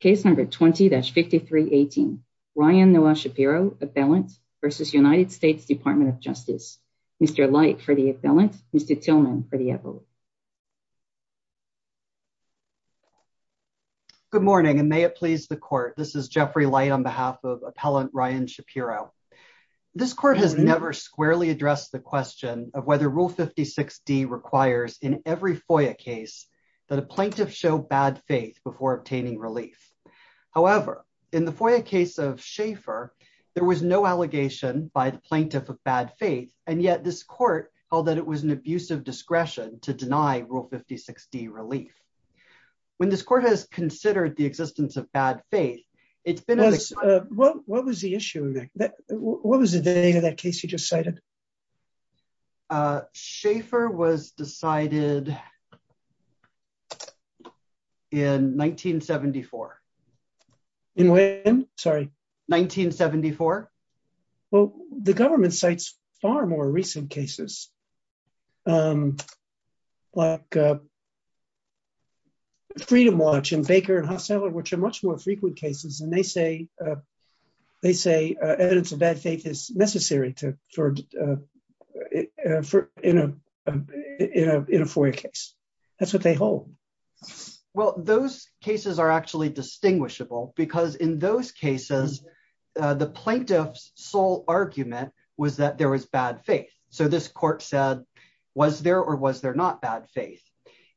Case number 20-5318. Ryan Noah Shapiro, Appellant versus United States Department of Justice. Mr. Light for the Appellant. Mr. Tillman for the Appellant. Good morning and may it please the court. This is Jeffrey Light on behalf of Appellant Ryan Shapiro. This court has never squarely addressed the question of whether Rule 56D requires in every relief. However, in the FOIA case of Shaffer, there was no allegation by the plaintiff of bad faith, and yet this court held that it was an abusive discretion to deny Rule 56D relief. When this court has considered the existence of bad faith, it's been... What was the issue? What was the name of that case you just cited? Shaffer was decided in 1974. In when? Sorry. 1974. Well, the government cites far more recent cases like Freedom Watch and Baker and Hosteller, which are much more frequent cases, and they say evidence of bad faith is necessary in a FOIA case. That's what they hold. Well, those cases are actually distinguishable because in those cases, the plaintiff's sole argument was that there was bad faith. So this court said, was there or was there not bad faith?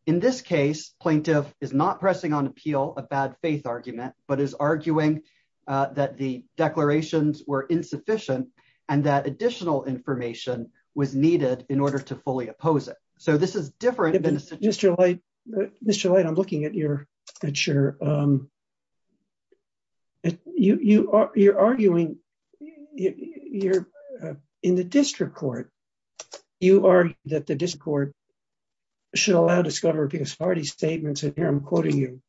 In this case, plaintiff is not pressing on appeal a bad faith argument, but is arguing that the declarations were insufficient and that additional information was needed in order to fully oppose it. So this is different than... Mr. Light, I'm looking at your picture. You're arguing in the district court, you argue that the district court should allow statements, and here I'm quoting you,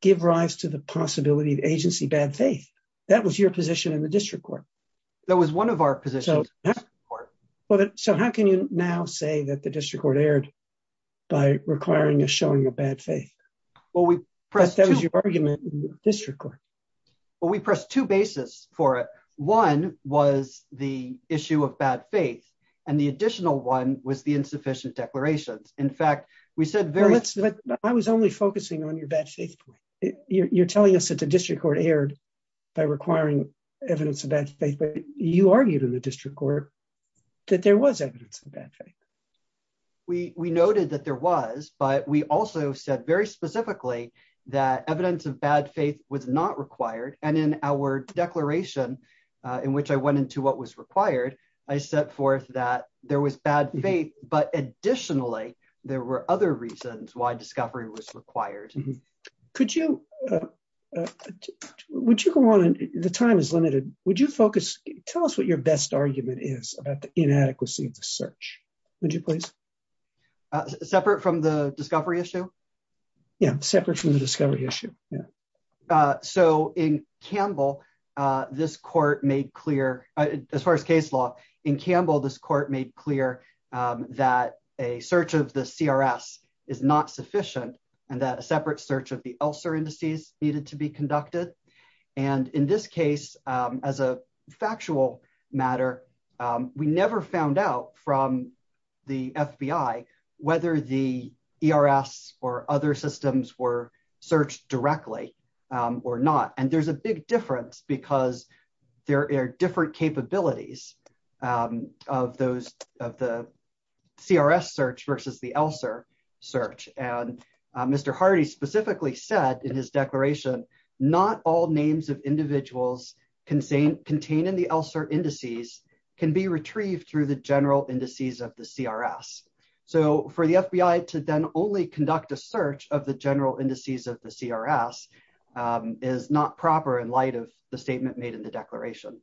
give rise to the possibility of agency bad faith. That was your position in the district court. That was one of our positions in the district court. So how can you now say that the district court erred by requiring a showing of bad faith? That was your argument in the district court. Well, we pressed two bases for it. One was the issue of bad faith, and the additional one was insufficient declarations. In fact, we said very... I was only focusing on your bad faith point. You're telling us that the district court erred by requiring evidence of bad faith, but you argued in the district court that there was evidence of bad faith. We noted that there was, but we also said very specifically that evidence of bad faith was not required. And in our declaration in which I went into what was required, I set forth that there was bad faith, but additionally, there were other reasons why discovery was required. Could you... Would you go on? The time is limited. Would you focus... Tell us what your best argument is about the inadequacy of the search, would you please? Separate from the discovery issue? Yeah, separate from the discovery issue. Yeah. So in Campbell, this court made clear, as far as case law, in Campbell, this court made clear that a search of the CRS is not sufficient and that a separate search of the ELSER indices needed to be conducted. And in this case, as a factual matter, we never found out from the FBI whether the ERS or other systems were searched directly or not. And there's a big difference because there are different capabilities of the CRS search versus the ELSER search. And Mr. Hardy specifically said in his declaration, not all names of individuals contained in the indices of the CRS. So for the FBI to then only conduct a search of the general indices of the CRS is not proper in light of the statement made in the declaration.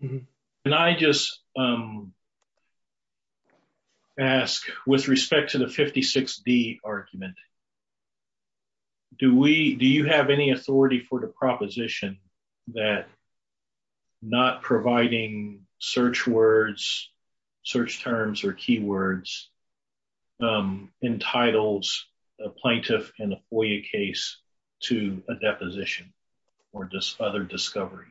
Can I just ask, with respect to the 56D argument, do you have any authority for the proposition that not providing search words, search terms, or keywords entitles a plaintiff in a FOIA case to a deposition or other discovery?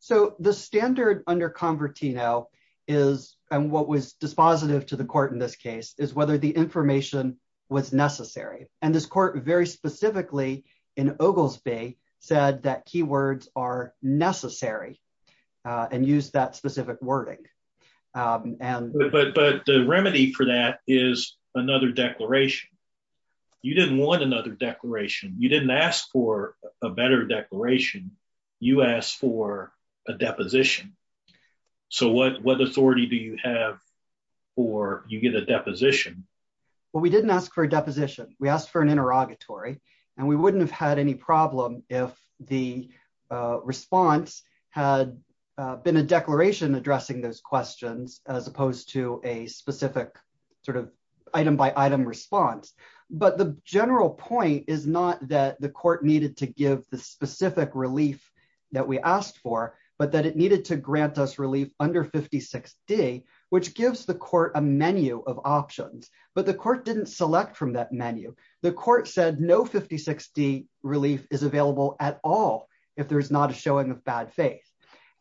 So the standard under Convertino is, and what was dispositive to the court in this case, is whether the information was necessary. And this court, very specifically in Oglesby, said that keywords are necessary and used that specific wording. But the remedy for that is another declaration. You didn't want another declaration. You didn't ask for a better declaration. You asked for a deposition. So what authority do you have for you get a deposition? Well, we didn't ask for a deposition. We wouldn't have had any problem if the response had been a declaration addressing those questions, as opposed to a specific item-by-item response. But the general point is not that the court needed to give the specific relief that we asked for, but that it needed to grant us relief under 56D, which gives the court a menu of options. But the court didn't select from that menu. The court said no 56D relief is available at all if there is not a showing of bad faith.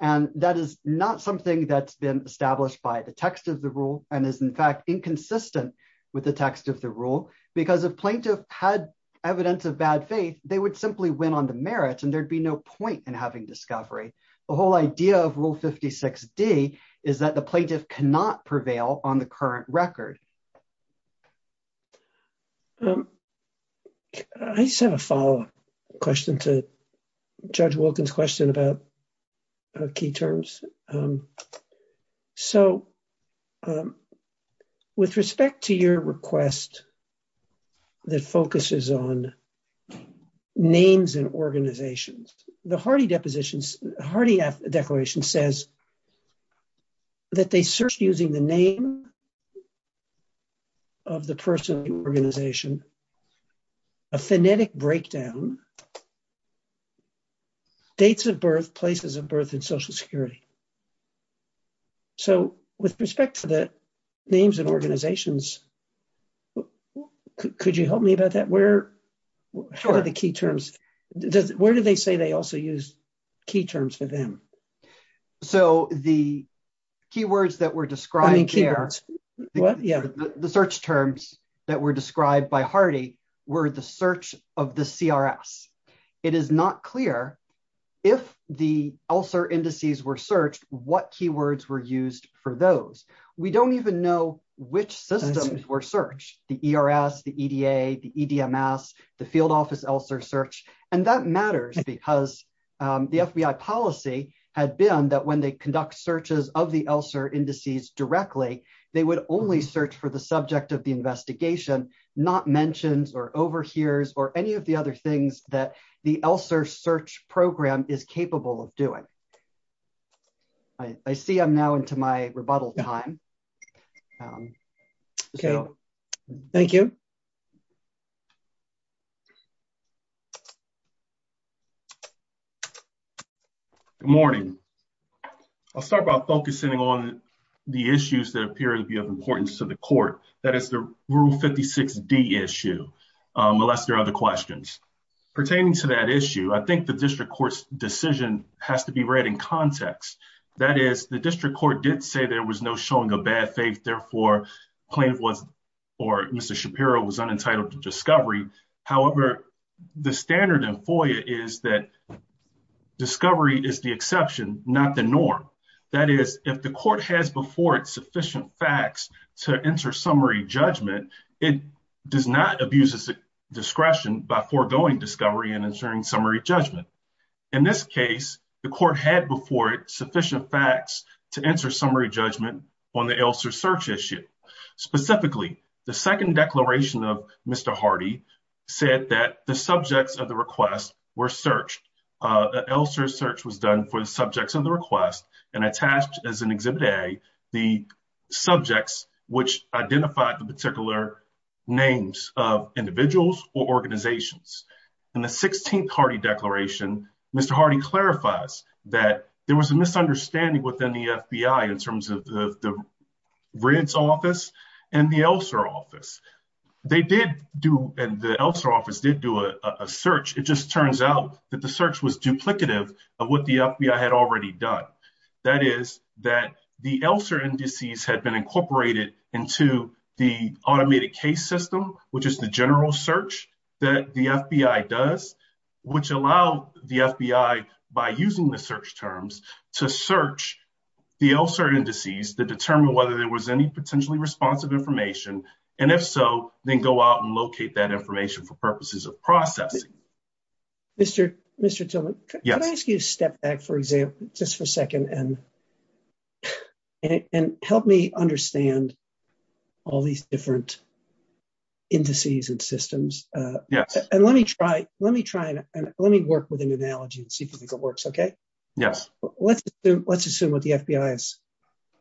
And that is not something that's been established by the text of the rule and is, in fact, inconsistent with the text of the rule. Because if plaintiff had evidence of bad faith, they would simply win on the merit, and there'd be no point in having discovery. The whole idea of Rule 56D is that the plaintiff cannot prevail on the current record. I just have a follow-up question to Judge Wilkins' question about key terms. So, with respect to your request that focuses on names and organizations, the Hardy declaration says that they searched using the name of the person or organization, a phonetic breakdown, dates of birth, places of birth, and Social Security. So, with respect to the names and organizations, could you help me about that? Where are the key terms? Where do they say they also use key terms for them? So, the keywords that were described there, the search terms that were described by Hardy were the search of the CRS. It is not clear if the ELSR indices were searched, what keywords were used for those. We don't even know which systems were searched, the ERS, the FBI policy had been that when they conduct searches of the ELSR indices directly, they would only search for the subject of the investigation, not mentions or overhears or any of the other things that the ELSR search program is capable of doing. I see I'm now into my rebuttal time. Okay, thank you. Good morning. I'll start by focusing on the issues that appear to be of importance to the court, that is the Rule 56D issue, unless there are other questions. Pertaining to that issue, I think the district court's decision has to be read in context. That is, the district court did say there was no showing of bad faith, therefore, plaintiff was, or Mr. Shapiro was unentitled to discovery is the exception, not the norm. That is, if the court has before it sufficient facts to enter summary judgment, it does not abuse its discretion by foregoing discovery and ensuring summary judgment. In this case, the court had before it sufficient facts to answer summary judgment on the ELSR search issue. Specifically, the second declaration of Mr. Hardy said that the subjects of the request were searched. ELSR search was done for the subjects of the request and attached as an Exhibit A, the subjects which identified the particular names of individuals or organizations. In the 16th Hardy Declaration, Mr. Hardy clarifies that there was a misunderstanding within the FBI in terms of the RID's office and the ELSR office. They did do, and the ELSR office did do, a search. It just turns out that the search was duplicative of what the FBI had already done. That is, that the ELSR indices had been incorporated into the automated case system, which is the general search that the FBI does, which allow the FBI, by using the search terms, to search the ELSR indices that determine whether there was any potentially responsive information, and if so, then go out and locate that information for purposes of processing. Mr. Tillman, could I ask you to step back, for example, just for a second, and help me understand all these different indices and systems. Let me work with an analogy and see if you think it works, okay? Yes. Let's assume what the FBI is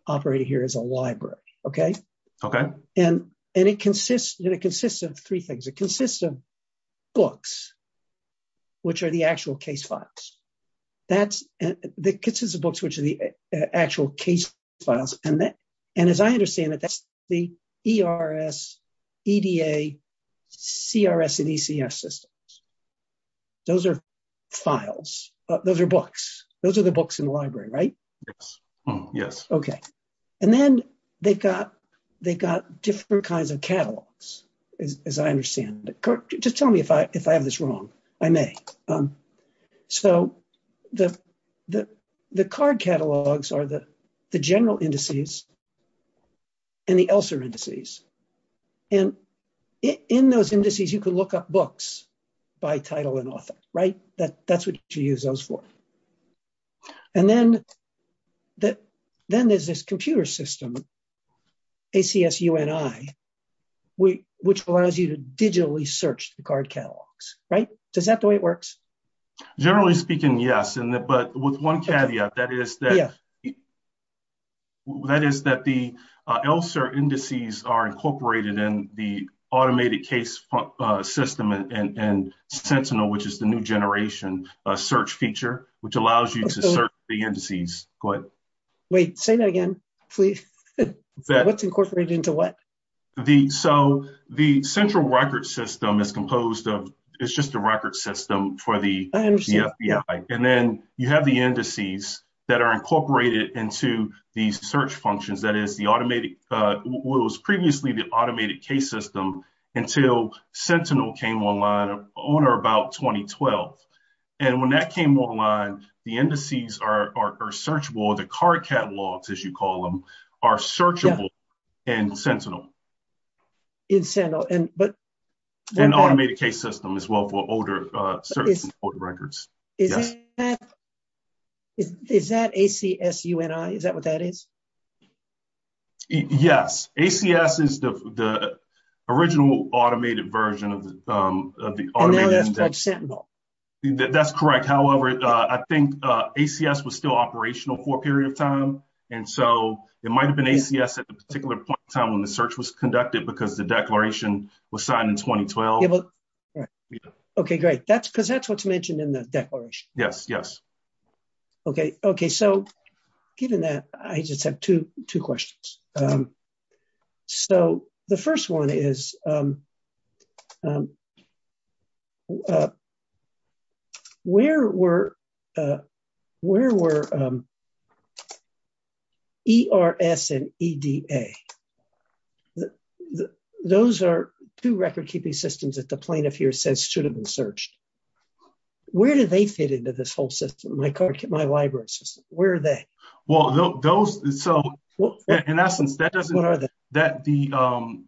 operating here is a library, okay? Okay. It consists of three things. It consists of books, which are the actual case files. It consists of books, which are the actual case files. As I understand it, that's the ERS, EDA, CRS, and ECS systems. Those are files. Those are books. Those are the books in the library, right? Yes. Yes. Okay. Then they've got different kinds of catalogs, as I understand it. Just tell me if I have this wrong. I may. The card catalogs are the general indices and the ELSR indices. In those indices, you can look up books by title and author, right? That's what you use those for. Then there's this computer system, ACSUNI, which allows you to digitally search the card catalogs, right? Is that the way it works? Generally speaking, yes. With one caveat, that is that the ELSR indices are incorporated in the automated case system and Sentinel, which is the new generation search feature, which allows you to search the indices. Go ahead. Wait. Say that again, please. What's incorporated into what? The central record system is composed of... It's just a record system for the FBI. Then you have the indices that are incorporated into these search functions. That is the automated... Well, Sentinel came online on or about 2012. When that came online, the indices are searchable. The card catalogs, as you call them, are searchable in Sentinel. In Sentinel. An automated case system as well for older records. Yes. Is that ACSUNI? Is that what that is? Yes. ACS is the original automated version of the... Now that's quite Sentinel. That's correct. However, I think ACS was still operational for a period of time. It might have been ACS at a particular point in time when the search was conducted because the declaration was signed in 2012. Right. Okay. Great. Because that's what's mentioned in the declaration. Yes. Yes. Okay. Given that, I just have two questions. The first one is, where were ERS and EDA? Those are two record-keeping systems that the plaintiff here says should have been searched. Where do they fit into this whole system, my library system? Where are they? Well, those... In essence, that doesn't... What are they? The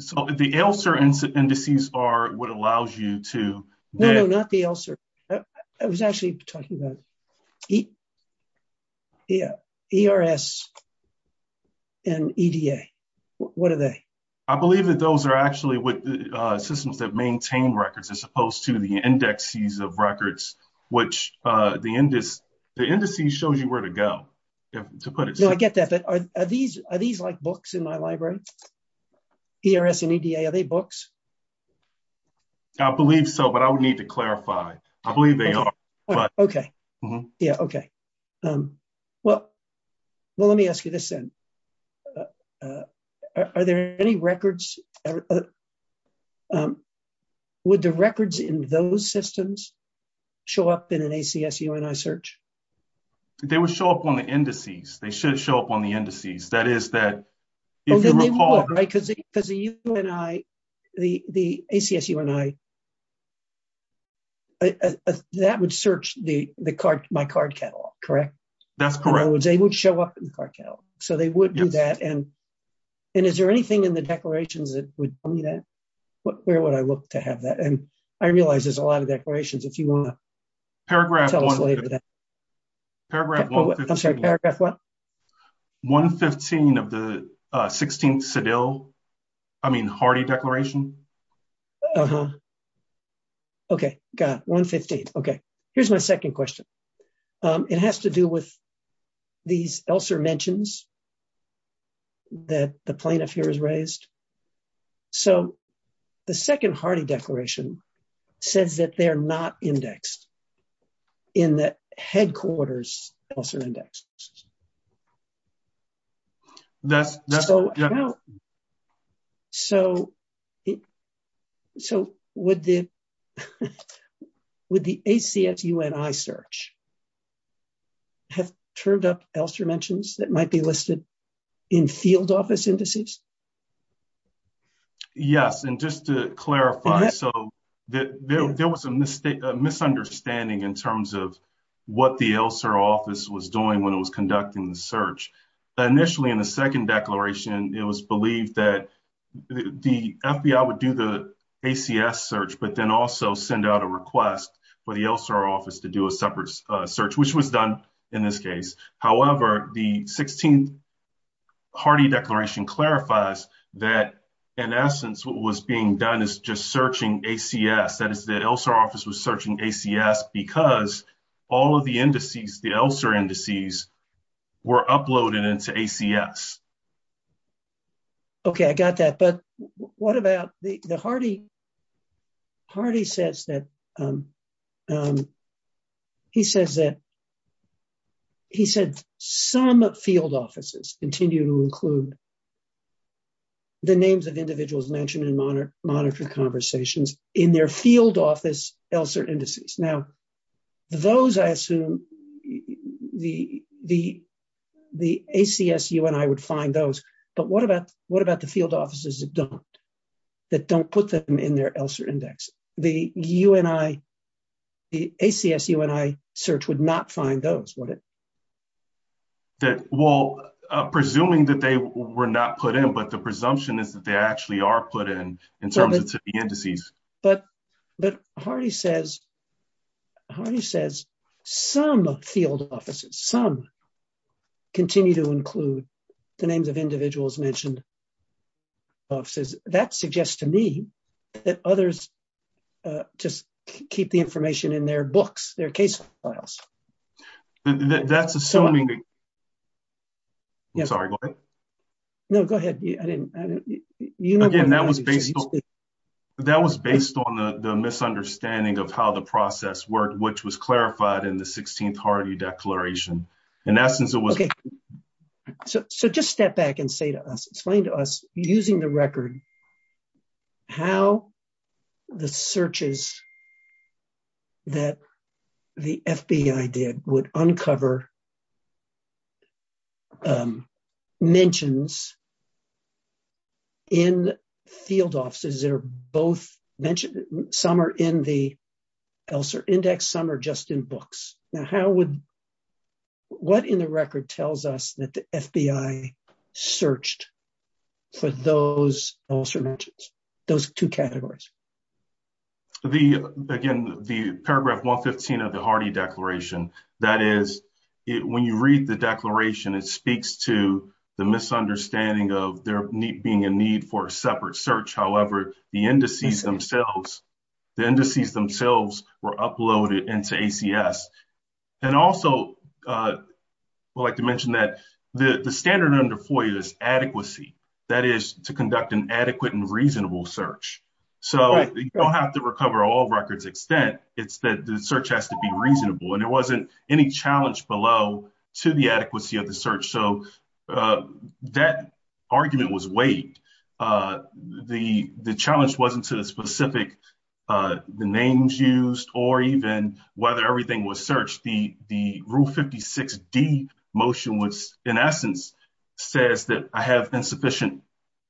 ELSR indices are what allows you to... No, no, not the ELSR. I was actually talking about ERS and EDA. What are they? I believe that those are actually systems that maintain records as opposed to the indexes of records, which the indices shows you where to go, to put it simply. No, I get that. But are these like books in my library? ERS and EDA, are they books? I believe so, but I would need to clarify. I believe they are, but- Okay. Yeah, okay. Well, let me ask you this then. Are there any records... Would the records in those systems show up in an ACS UNI search? They would show up on the indices. They should show up on the indices. That is that if you recall- The ACS UNI, that would search my card catalog, correct? That's correct. In other words, they would show up in the card catalog, so they would do that. Is there anything in the declarations that would tell me that? Where would I look to have that? I realize there's a lot of declarations. If you want to tell us later that- Paragraph 115- Paragraph 115- I'm sorry, paragraph what? 115 of the 16th Sedille, I mean, Hardy Declaration. Okay. Got it. 115. Okay. Here's my second question. It has to do with these ELSER mentions that the plaintiff here has raised. The second Hardy Declaration says that they're not indexed in the headquarters ELSER index. Would the ACS UNI search have turned up ELSER mentions that might be listed in field office indices? Yes. Just to clarify, there was a misunderstanding in terms of what the ELSER office was doing when it was conducting the search. Initially, in the second declaration, it was believed that the FBI would do the ACS search, but then also send out a request for the ELSER office to do a separate search, which was done in this case. However, the 16th Hardy Declaration clarifies that, in essence, what was being done is just searching ACS. That is, the ELSER office was searching ACS because all of the indices, the ELSER indices, were uploaded into ACS. Okay. I got that, but what about the- Hardy says that some field offices continue to include the names of individuals mentioned in monitoring conversations in their field office ELSER indices. Now, those, I assume, the ACS UNI would find those, but what about the field offices that don't, that don't put them in their ELSER index? The ACS UNI search would not find those, would it? That, well, presuming that they were not put in, but the presumption is that they actually are put in, in terms of the indices. But, but Hardy says, Hardy says some field offices, some continue to include the names of individuals mentioned in field offices. That suggests to me that others just keep the information in their books, their case files. That's assuming- I'm sorry, go ahead. No, go ahead. I didn't, I didn't, you know- Again, that was based on, that was based on the misunderstanding of how the process worked, which was clarified in the 16th Hardy Declaration. In essence, it was- Okay. So, just step back and say to us, explain to us, using the record, how the searches that the FBI did would uncover mentions in field offices that are both mentioned, some are in the ELSER index, some are just in books. Now, how would, what in the record tells us that the FBI searched for those ELSER mentions, those two categories? The, again, the paragraph 115 of the Hardy Declaration, that is, when you read the declaration, it speaks to the misunderstanding of there being a need for a separate search. However, the indices themselves, the indices themselves were uploaded into ACS. And also, I'd like to mention that the standard under FOIA is adequacy, that is, to conduct an adequate and reasonable search. So, you don't have to recover all records extent, it's that the search has to be reasonable, and there wasn't any challenge below to the adequacy of the search. So, that argument was waived. The challenge wasn't to the specific, the names used, or even whether everything was searched. The rule 56D motion was, in essence, says that I have insufficient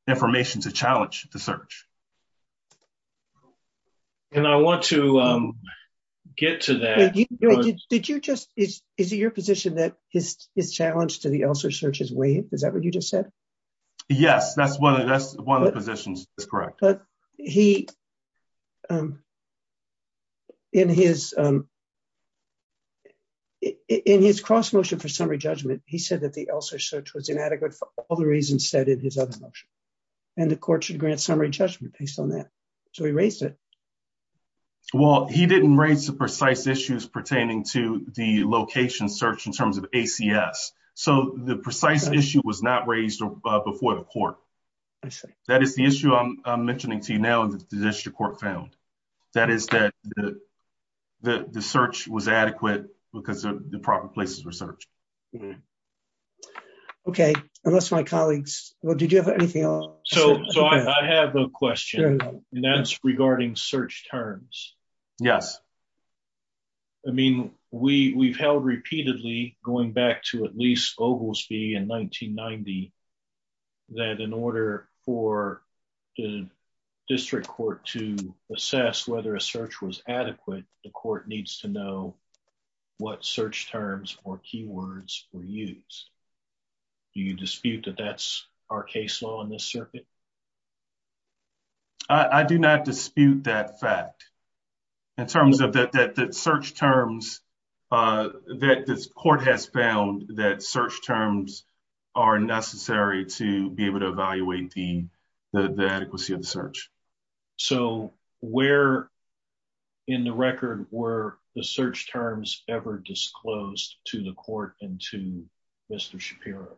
information to challenge the search. And I want to get to that. Did you just, is it your position that his challenge to the ELSER search is waived? Is that what you just said? Yes, that's one of the positions that's correct. But he, in his cross motion for summary judgment, he said that the ELSER search was inadequate for all the reasons said in his other motion. And the court should grant summary judgment based on that. So, he raised it. Well, he didn't raise the precise issues pertaining to the location search in terms of ACS. So, the precise issue was not raised before the court. That is the issue I'm mentioning to you now that the district court found. That is that the search was adequate because the proper places were searched. Okay. Unless my colleagues, well, did you have anything So, I have a question. And that's regarding search terms. Yes. I mean, we've held repeatedly, going back to at least Oglesby in 1990, that in order for the district court to assess whether a search was adequate, the court needs to know what search terms or keywords were used. Do you dispute that that's our case law in this circuit? I do not dispute that fact in terms of that search terms that this court has found that search terms are necessary to be able to evaluate the adequacy of the search. So, where in the record were the search terms ever disclosed to the court and to Mr. Shapiro?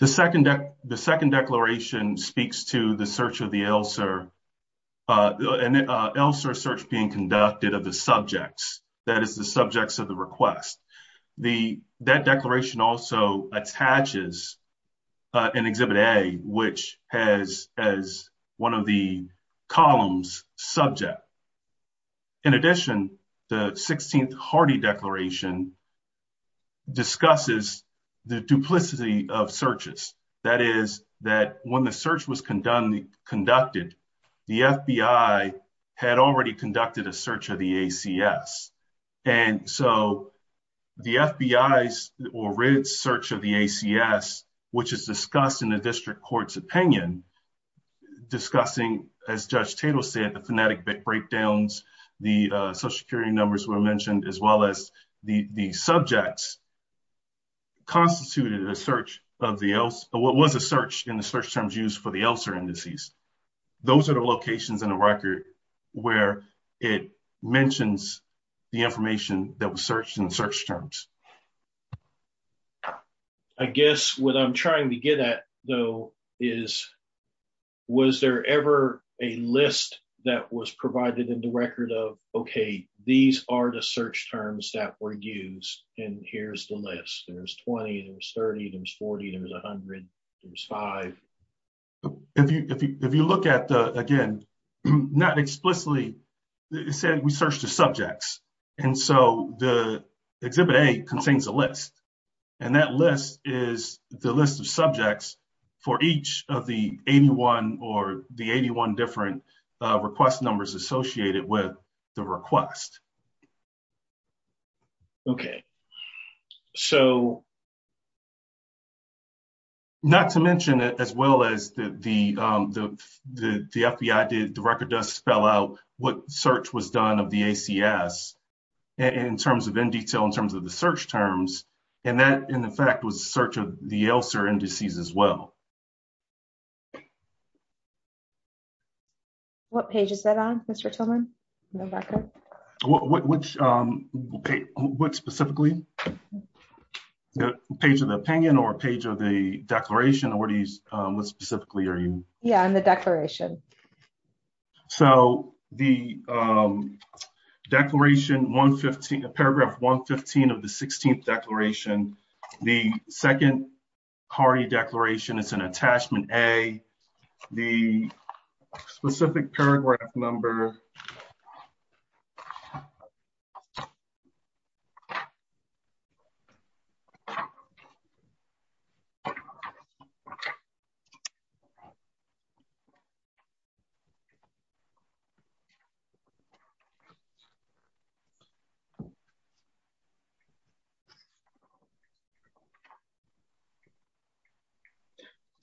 The second declaration speaks to the search of the ELSR. An ELSR search being conducted of the subjects, that is the subjects of the request. That columns subject. In addition, the 16th Hardy Declaration discusses the duplicity of searches. That is that when the search was conducted, the FBI had already conducted a search of the ACS. And so, the FBI's search of the ACS, which is discussed in the district court's opinion, discussing, as Judge Tatel said, the phonetic breakdowns, the social security numbers were mentioned, as well as the subjects constituted a search of the ELSR, what was a search in the search terms used for the ELSR indices. Those are the locations in the record where it mentions the information that was searched in search terms. I guess what I'm trying to get at, though, is was there ever a list that was provided in the record of, okay, these are the search terms that were used, and here's the list. There's 20, there's 30, there's 40, there's 100, there's five. If you look at the, again, not explicitly, it said we searched the subjects. And so, the Exhibit A contains a list, and that list is the list of subjects for each of the 81 or the 81 different request numbers associated with the request. Okay. So, not to mention, as well as the FBI did, the record does spell out what search was done of the ACS. In terms of in detail, in terms of the search terms, and that, in effect, was a search of the ELSR indices, as well. What page is that on, Mr. Tillman, in the record? What specifically? The page of the opinion or page of the declaration? What specifically are you? Yeah, in the declaration. So, the declaration, paragraph 115 of the 16th declaration, the second CARI declaration, it's an attachment A, the specific paragraph number, so,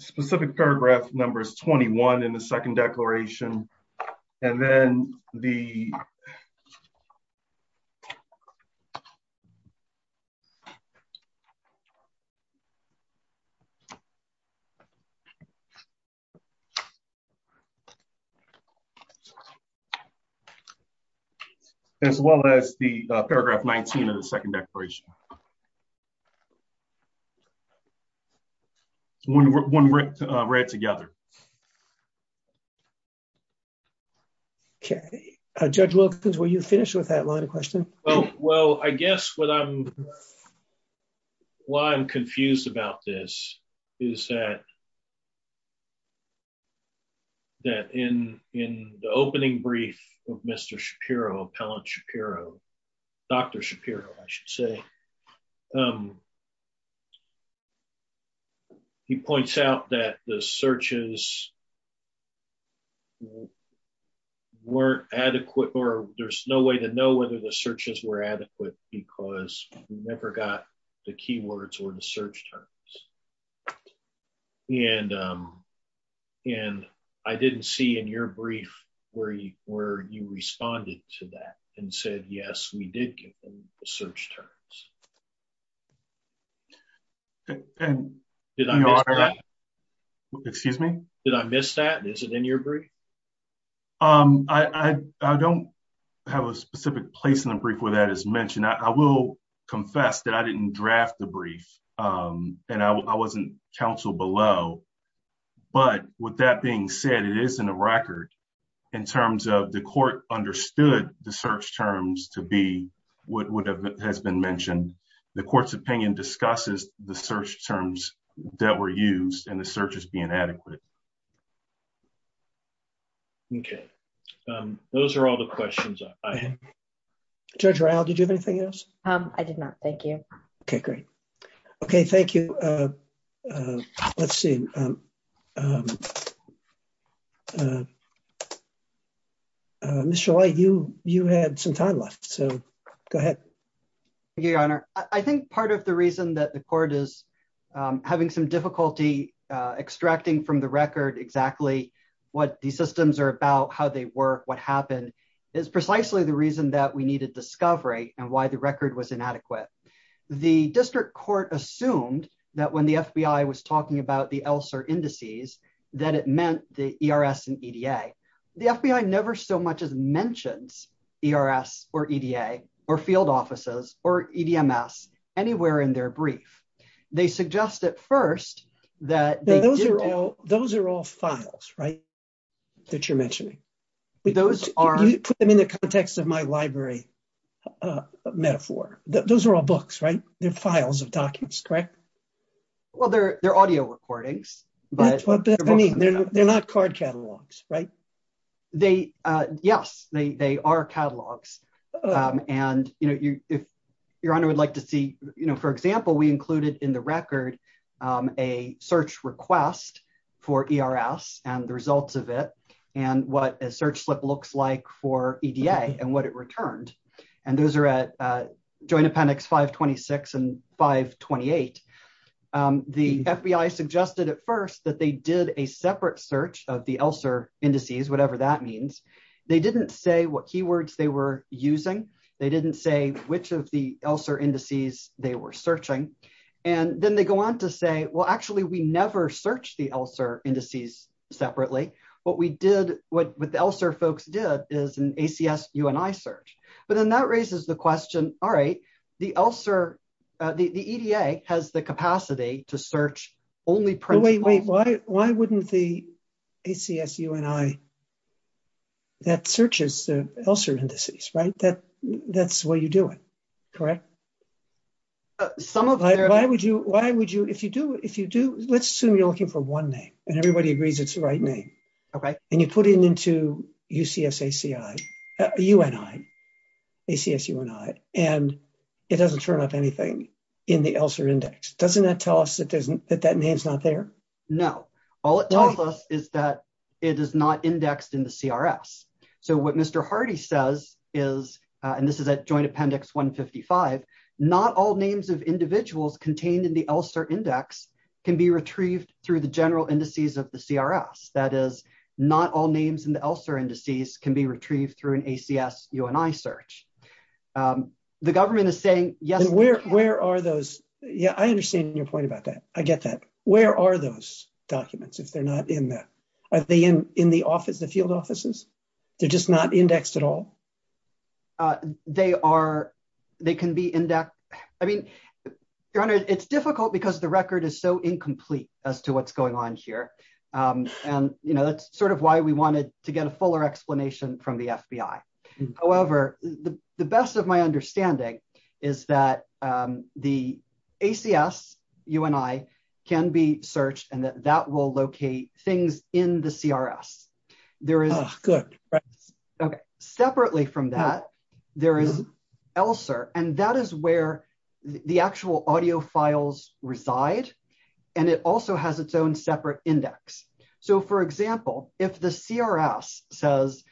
specific paragraph number is 21 in the second declaration. And then, the, as well as the paragraph 19 of the second declaration. One read together. Okay. Judge Wilkins, were you finished with that line of questioning? Well, I guess what I'm, why I'm confused about this is that, that in, in the opening brief of Mr. Shapiro, Appellant Shapiro, Dr. Shapiro, I should say, he points out that the searches weren't adequate, or there's no way to know whether the searches were adequate, because we never got the keywords or the search terms. And, and I didn't see in your brief, where you, where you responded to that and said, yes, we did get the search terms. And, did I know that, excuse me? Did I miss that? Is it in your brief? Um, I, I don't have a specific place in the brief where that is mentioned. I will confess that I didn't draft the brief, and I wasn't counseled below. But, with that being said, it is in the record, in terms of the court understood the search terms to be what would have, has been mentioned. The court's opinion discusses the search terms that were used, and the search is being adequate. Okay. Those are all the questions I have. Judge Rowell, did you have anything else? I did not. Thank you. Okay, great. Okay, thank you. Let's see. Mr. White, you, you had some time left, so go ahead. Thank you, Your Honor. I think part of the reason that the court is having some difficulty extracting from the record exactly what these systems are about, how they work, what happened, is precisely the reason that we needed discovery and why the record was inadequate. The district court assumed that when the FBI was talking about the ELSR indices, that it meant the ERS and EDA. The FBI never so much as mentions ERS or EDA or field offices, or EDMS, anywhere in their brief. They suggest at first that... Those are all files, right? That you're mentioning. Those are... You put them in the context of my library metaphor. Those are all books, right? They're files of documents, correct? Well, they're audio recordings, but... They're not card catalogs, right? They, yes, they are catalogs. And, you know, if Your Honor would like to see, you know, for example, we included in the record a search request for ERS and the results of it, and what a search slip looks like for EDA and what it returned. And those are at Joint Appendix 526 and 528. The FBI suggested at first that they did a separate search of the ELSR indices, whatever that means. They didn't say what keywords they were using. They didn't say which of the ELSR indices they were searching. And then they go on to say, well, actually, we never searched the ELSR indices separately. What we did, what the ELSR folks did is an The EDA has the capacity to search only principles... Wait, wait, why wouldn't the ACS UNI that searches the ELSR indices, right? That's where you do it, correct? Some of their... Why would you, why would you, if you do, if you do, let's assume you're looking for one name, and everybody agrees it's the right name. Okay. And you put it into UCSACI, UNI, ACS UNI, and it doesn't turn up anything in the ELSR index. Doesn't that tell us that that name's not there? No. All it tells us is that it is not indexed in the CRS. So what Mr. Hardy says is, and this is at Joint Appendix 155, not all names of individuals contained in the ELSR index can be retrieved through the general indices of the CRS. That is, not all names in the ELSR indices can be retrieved through an ACS UNI search. The government is saying, yes... And where, where are those? Yeah, I understand your point about that. I get that. Where are those documents if they're not in there? Are they in, in the office, the field offices? They're just not indexed at all? They are, they can be indexed. I mean, it's difficult because the record is so incomplete as to what's going on here. And, you know, that's sort of why we wanted to get a fuller explanation from the FBI. However, the best of my understanding is that the ACS UNI can be from that. There is ELSR, and that is where the actual audio files reside. And it also has its own separate index. So for example, if the CRS says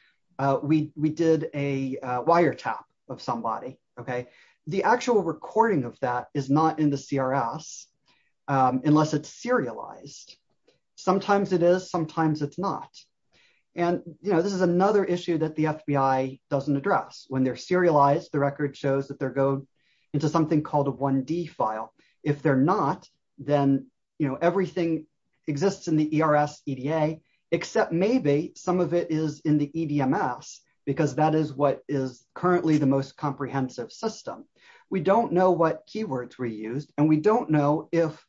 we, we did a wire tap of somebody. Okay. The actual recording of that is not in the CRS unless it's serialized. Sometimes it is, sometimes it's not. And, you know, this is another issue that the FBI doesn't address. When they're serialized, the record shows that they're going into something called a 1D file. If they're not, then, you know, everything exists in the ERS EDA, except maybe some of it is in the EDMS because that is what is currently the most comprehensive system. We don't know what keywords were used. And we don't know if,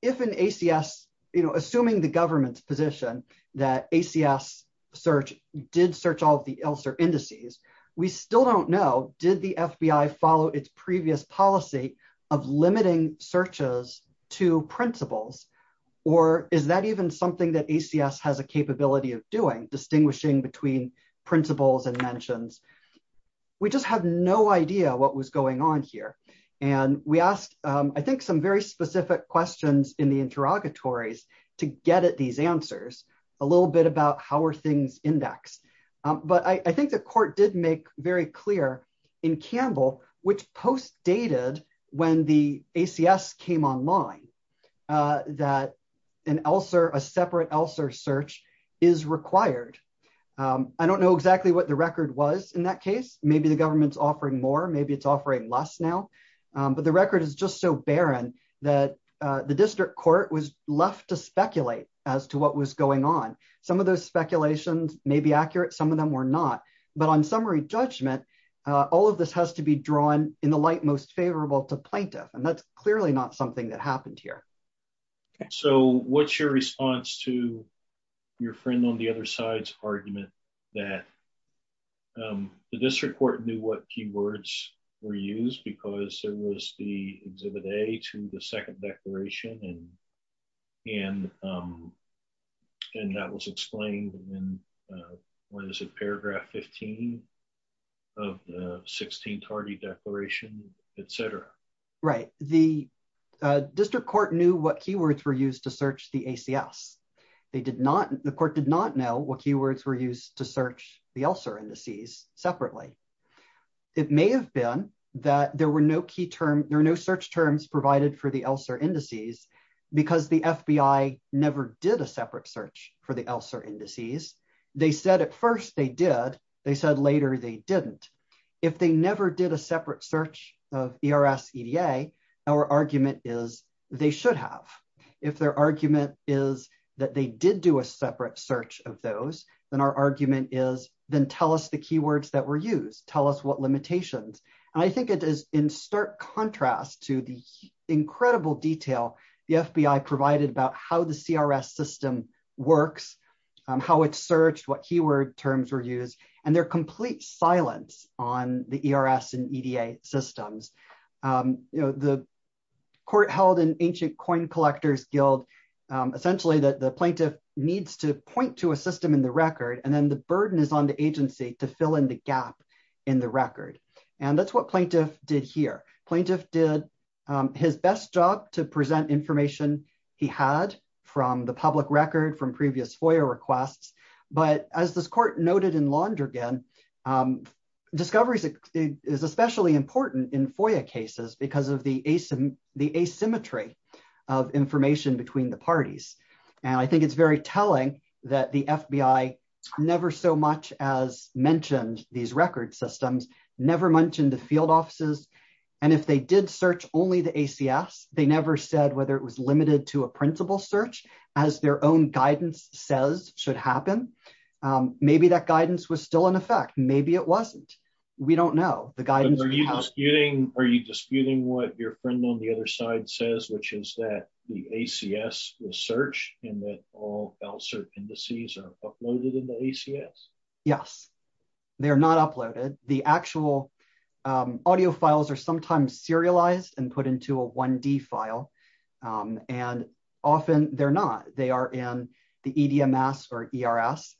if an ACS, you know, assuming the government's position that ACS search did search all of the ELSR indices, we still don't know, did the FBI follow its previous policy of limiting searches to principles? Or is that even something that ACS has a capability of doing, distinguishing between principles and mentions? We just have no idea what was going on here. And we asked, I think, some very specific questions in the interrogatories to get at these answers, a little bit about how are things indexed. But I think the court did make very clear in Campbell, which post dated when the ACS came online that an ELSR, a separate ELSR search is required. I don't know exactly what the record was in that case. Maybe the government's offering more, maybe it's offering less now, but the record is just so barren that the district court was left to speculate as to what was going on. Some of those speculations may be accurate. Some of them were not, but on summary judgment, all of this has to be drawn in the light most favorable to plaintiff. And that's clearly not something that happened here. So what's your response to your friend on the other side's argument that the district court knew what keywords were used because there was the 16th party declaration, et cetera? Right. The district court knew what keywords were used to search the ACS. The court did not know what keywords were used to search the ELSR indices separately. It may have been that there were no search terms provided for the ELSR indices because the FBI never did a separate search for the ELSR indices. They said at first they did. They said later they didn't. If they never did a separate search of ERS EDA, our argument is they should have. If their argument is that they did do a separate search of those, then our argument is then tell us the keywords that were used. Tell us what limitations. And I think it is in stark contrast to the incredible detail the FBI provided about how the CRS system works, how it's searched, what keyword terms were used, and their complete silence on the ERS and EDA systems. The court held in Ancient Coin Collectors Guild essentially that the plaintiff needs to point to a system in the record and then the burden is on the agency to fill in the gap in the record. And that's what plaintiff did here. Plaintiff did his best job to present information he had from the public record, from previous FOIA requests. But as this court noted in Londrigan, discovery is especially important in FOIA cases because of the asymmetry of information between the parties. And I think it's very telling that the FBI never so much as mentioned these record systems, never mentioned the field offices. And if they did search only the ACS, they never said whether it was limited to a principal search as their own guidance says should happen. Maybe that guidance was still in effect. Maybe it wasn't. We don't know. The guidance... Are you disputing what your friend on the other side says, which is that the ACS will search and that all L-cert indices are uploaded in the ACS? Yes, they're not uploaded. The actual audio files are sometimes serialized and put into a 1D file. And often they're not. They are in the EDMS or ERS.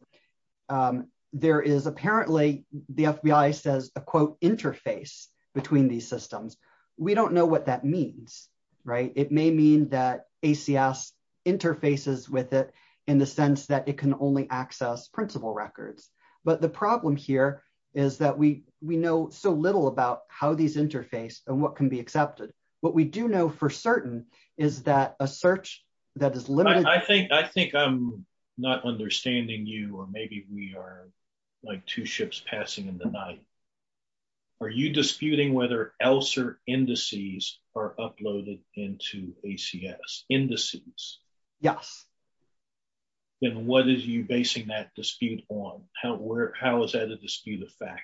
There is apparently, the FBI says, a quote, interface between these systems. We don't know what that means, right? It may mean that ACS interfaces with it in the sense that it can only access principal records. But the problem here is that we know so little about how these interface and what can be accepted. What we do know for certain is that a search that is limited... I think I'm not understanding you, or maybe we are like two ships passing in the night. Are you disputing whether L-cert indices are uploaded into ACS indices? Yes. And what is you basing that dispute on? How is that a dispute of fact?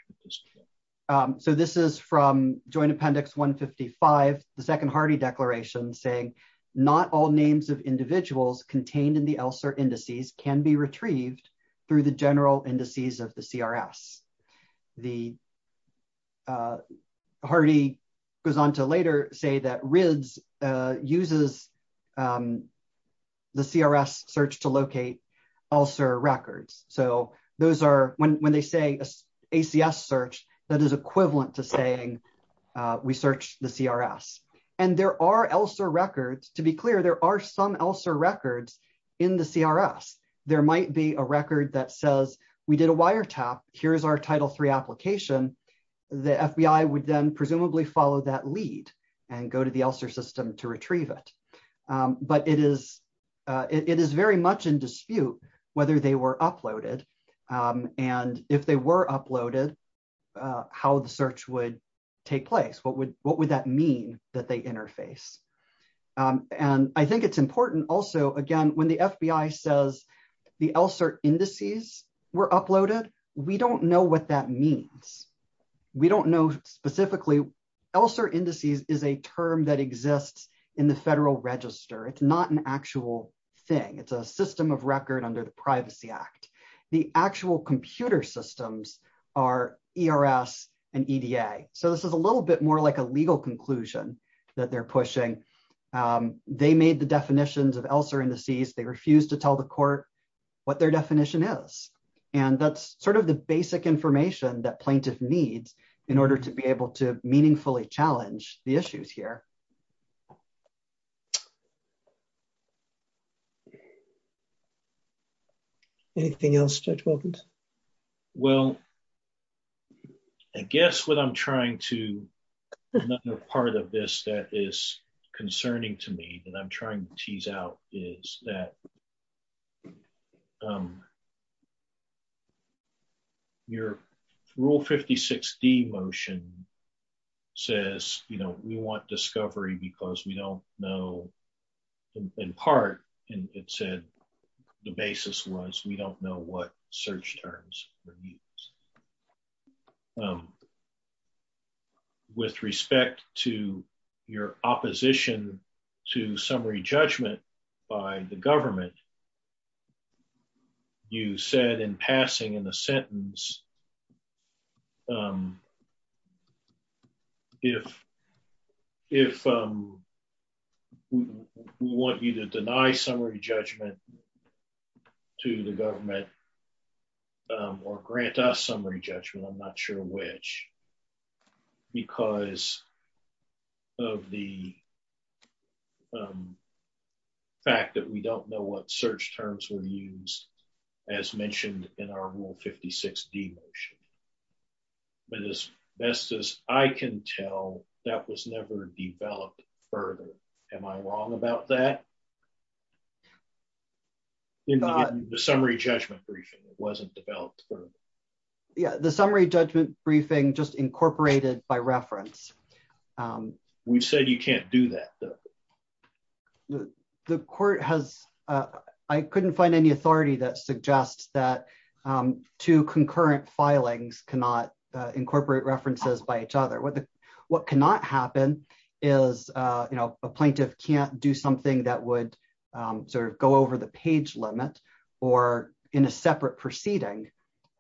So this is from Joint Appendix 155, the second Hardy declaration saying, not all names of individuals contained in the L-cert indices can be retrieved through the general indices of the CRS. The... Hardy goes on to later say that RIDS uses the CRS search to locate L-cert records. So those are, when they say ACS search, that is equivalent to saying we search the CRS. And there are L-cert records. To be clear, there are some L-cert records in the CRS. There might be a record that says, we did a wire tap. Here's our Title III application. The FBI would then presumably follow that lead and go to the L-cert system to retrieve it. But it is very much in dispute whether they were uploaded. And if they were uploaded, how the search would take place. What would that mean that they interface? And I think it's important also, again, when the FBI says the L-cert indices were uploaded, we don't know what that means. We don't know specifically. L-cert indices is a term that exists in the Federal Register. It's not an actual thing. It's a system of record under the Privacy Act. The actual computer systems are ERS and EDA. So this is a little bit more like a legal conclusion that they're pushing. They made the definitions of L-cert indices. They refused to tell the court what their definition is. And that's sort of the basic information that plaintiff needs in order to be able to meaningfully challenge the issues here. Anything else Judge Wilkins? Well, I guess what I'm trying to, another part of this that is concerning to me that I'm trying to tease out is that your Rule 56-D motion says, you know, we want discovery because we don't know, in part, and it said the basis was we don't know what search terms would be used. With respect to your opposition to summary judgment by the government, you said in passing in the sentence, if we want you to deny summary judgment to the government or grant us summary judgment, I'm not sure which, because of the fact that we don't know what search terms were used, as mentioned in our Rule 56-D motion. But as best as I can tell, that was never developed further. Am I wrong about that? In the summary judgment briefing, it wasn't developed further. Yeah, the summary judgment briefing just incorporated by reference. We said you can't do that. The court has, I couldn't find any authority that suggests that two concurrent filings cannot incorporate references by each other. What cannot happen is, you know, a plaintiff can't do something that would sort of go over the page limit or in a separate proceeding,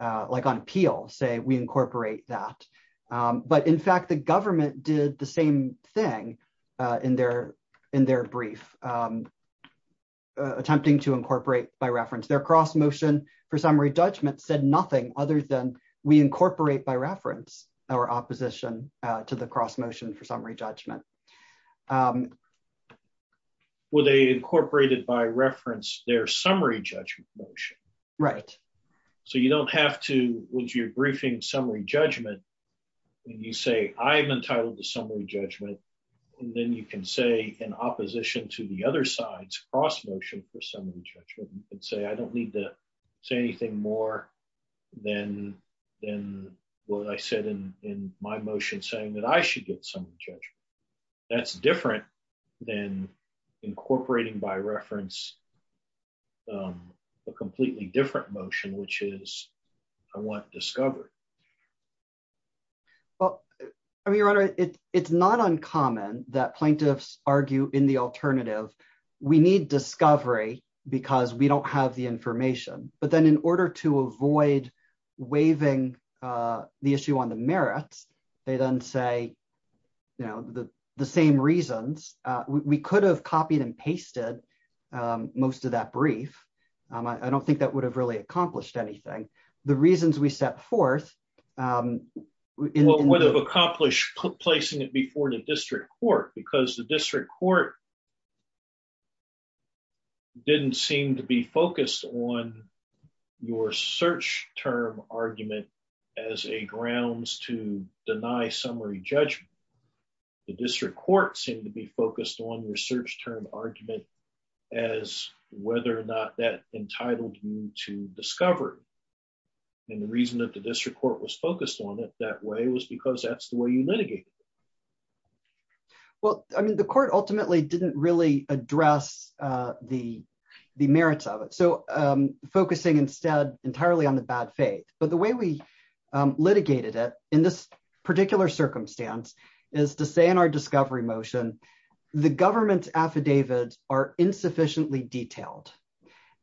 like on appeal, say we incorporate that. But in fact, the government did the same thing in their brief, attempting to incorporate by reference. Their cross motion for summary judgment said nothing other than we incorporate by reference our opposition to the cross motion for summary judgment. Well, they incorporated by reference their summary judgment motion. Right. So you don't have to, once you're briefing summary judgment, when you say I'm entitled to summary judgment, and then you can say in opposition to the other side's cross motion for summary judgment, you can say I don't need to say anything more than what I said in my motion saying that I should get summary judgment. That's different than incorporating by reference a completely different motion, which is, I want discovery. Well, Your Honor, it's not uncommon that plaintiffs argue in the alternative, we need discovery because we don't have the information. But then in order to avoid waiving the issue on the merits, they then say, you know, the same reasons, we could have copied and pasted most of that brief. I don't think that would have really accomplished anything. The reasons we set forth would have accomplished placing it before the district court because the district court didn't seem to be focused on your search term argument as a grounds to deny summary judgment. The district court seemed to be focused on your search term argument as whether or not that entitled you to discovery. And the reason that the district court was focused on it that way was because that's the way you litigate. Well, I mean, the court ultimately didn't really address the merits of it. So focusing instead entirely on the bad faith, but the way we litigated it in this particular circumstance is to say in our discovery motion, the government's affidavits are insufficiently detailed.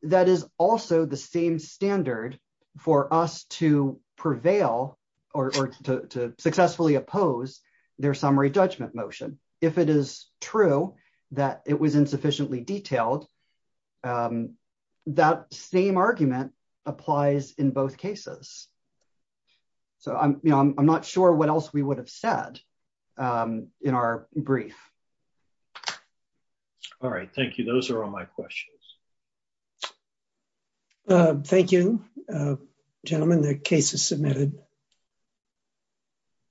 That is also the same standard for us to prevail or to successfully oppose their summary judgment motion. If it is true that it was insufficiently detailed, that same argument applies in both cases. So I'm not sure what else we would have said in our brief. All right. Thank you. Those are all my questions. Thank you, gentlemen, the case is submitted.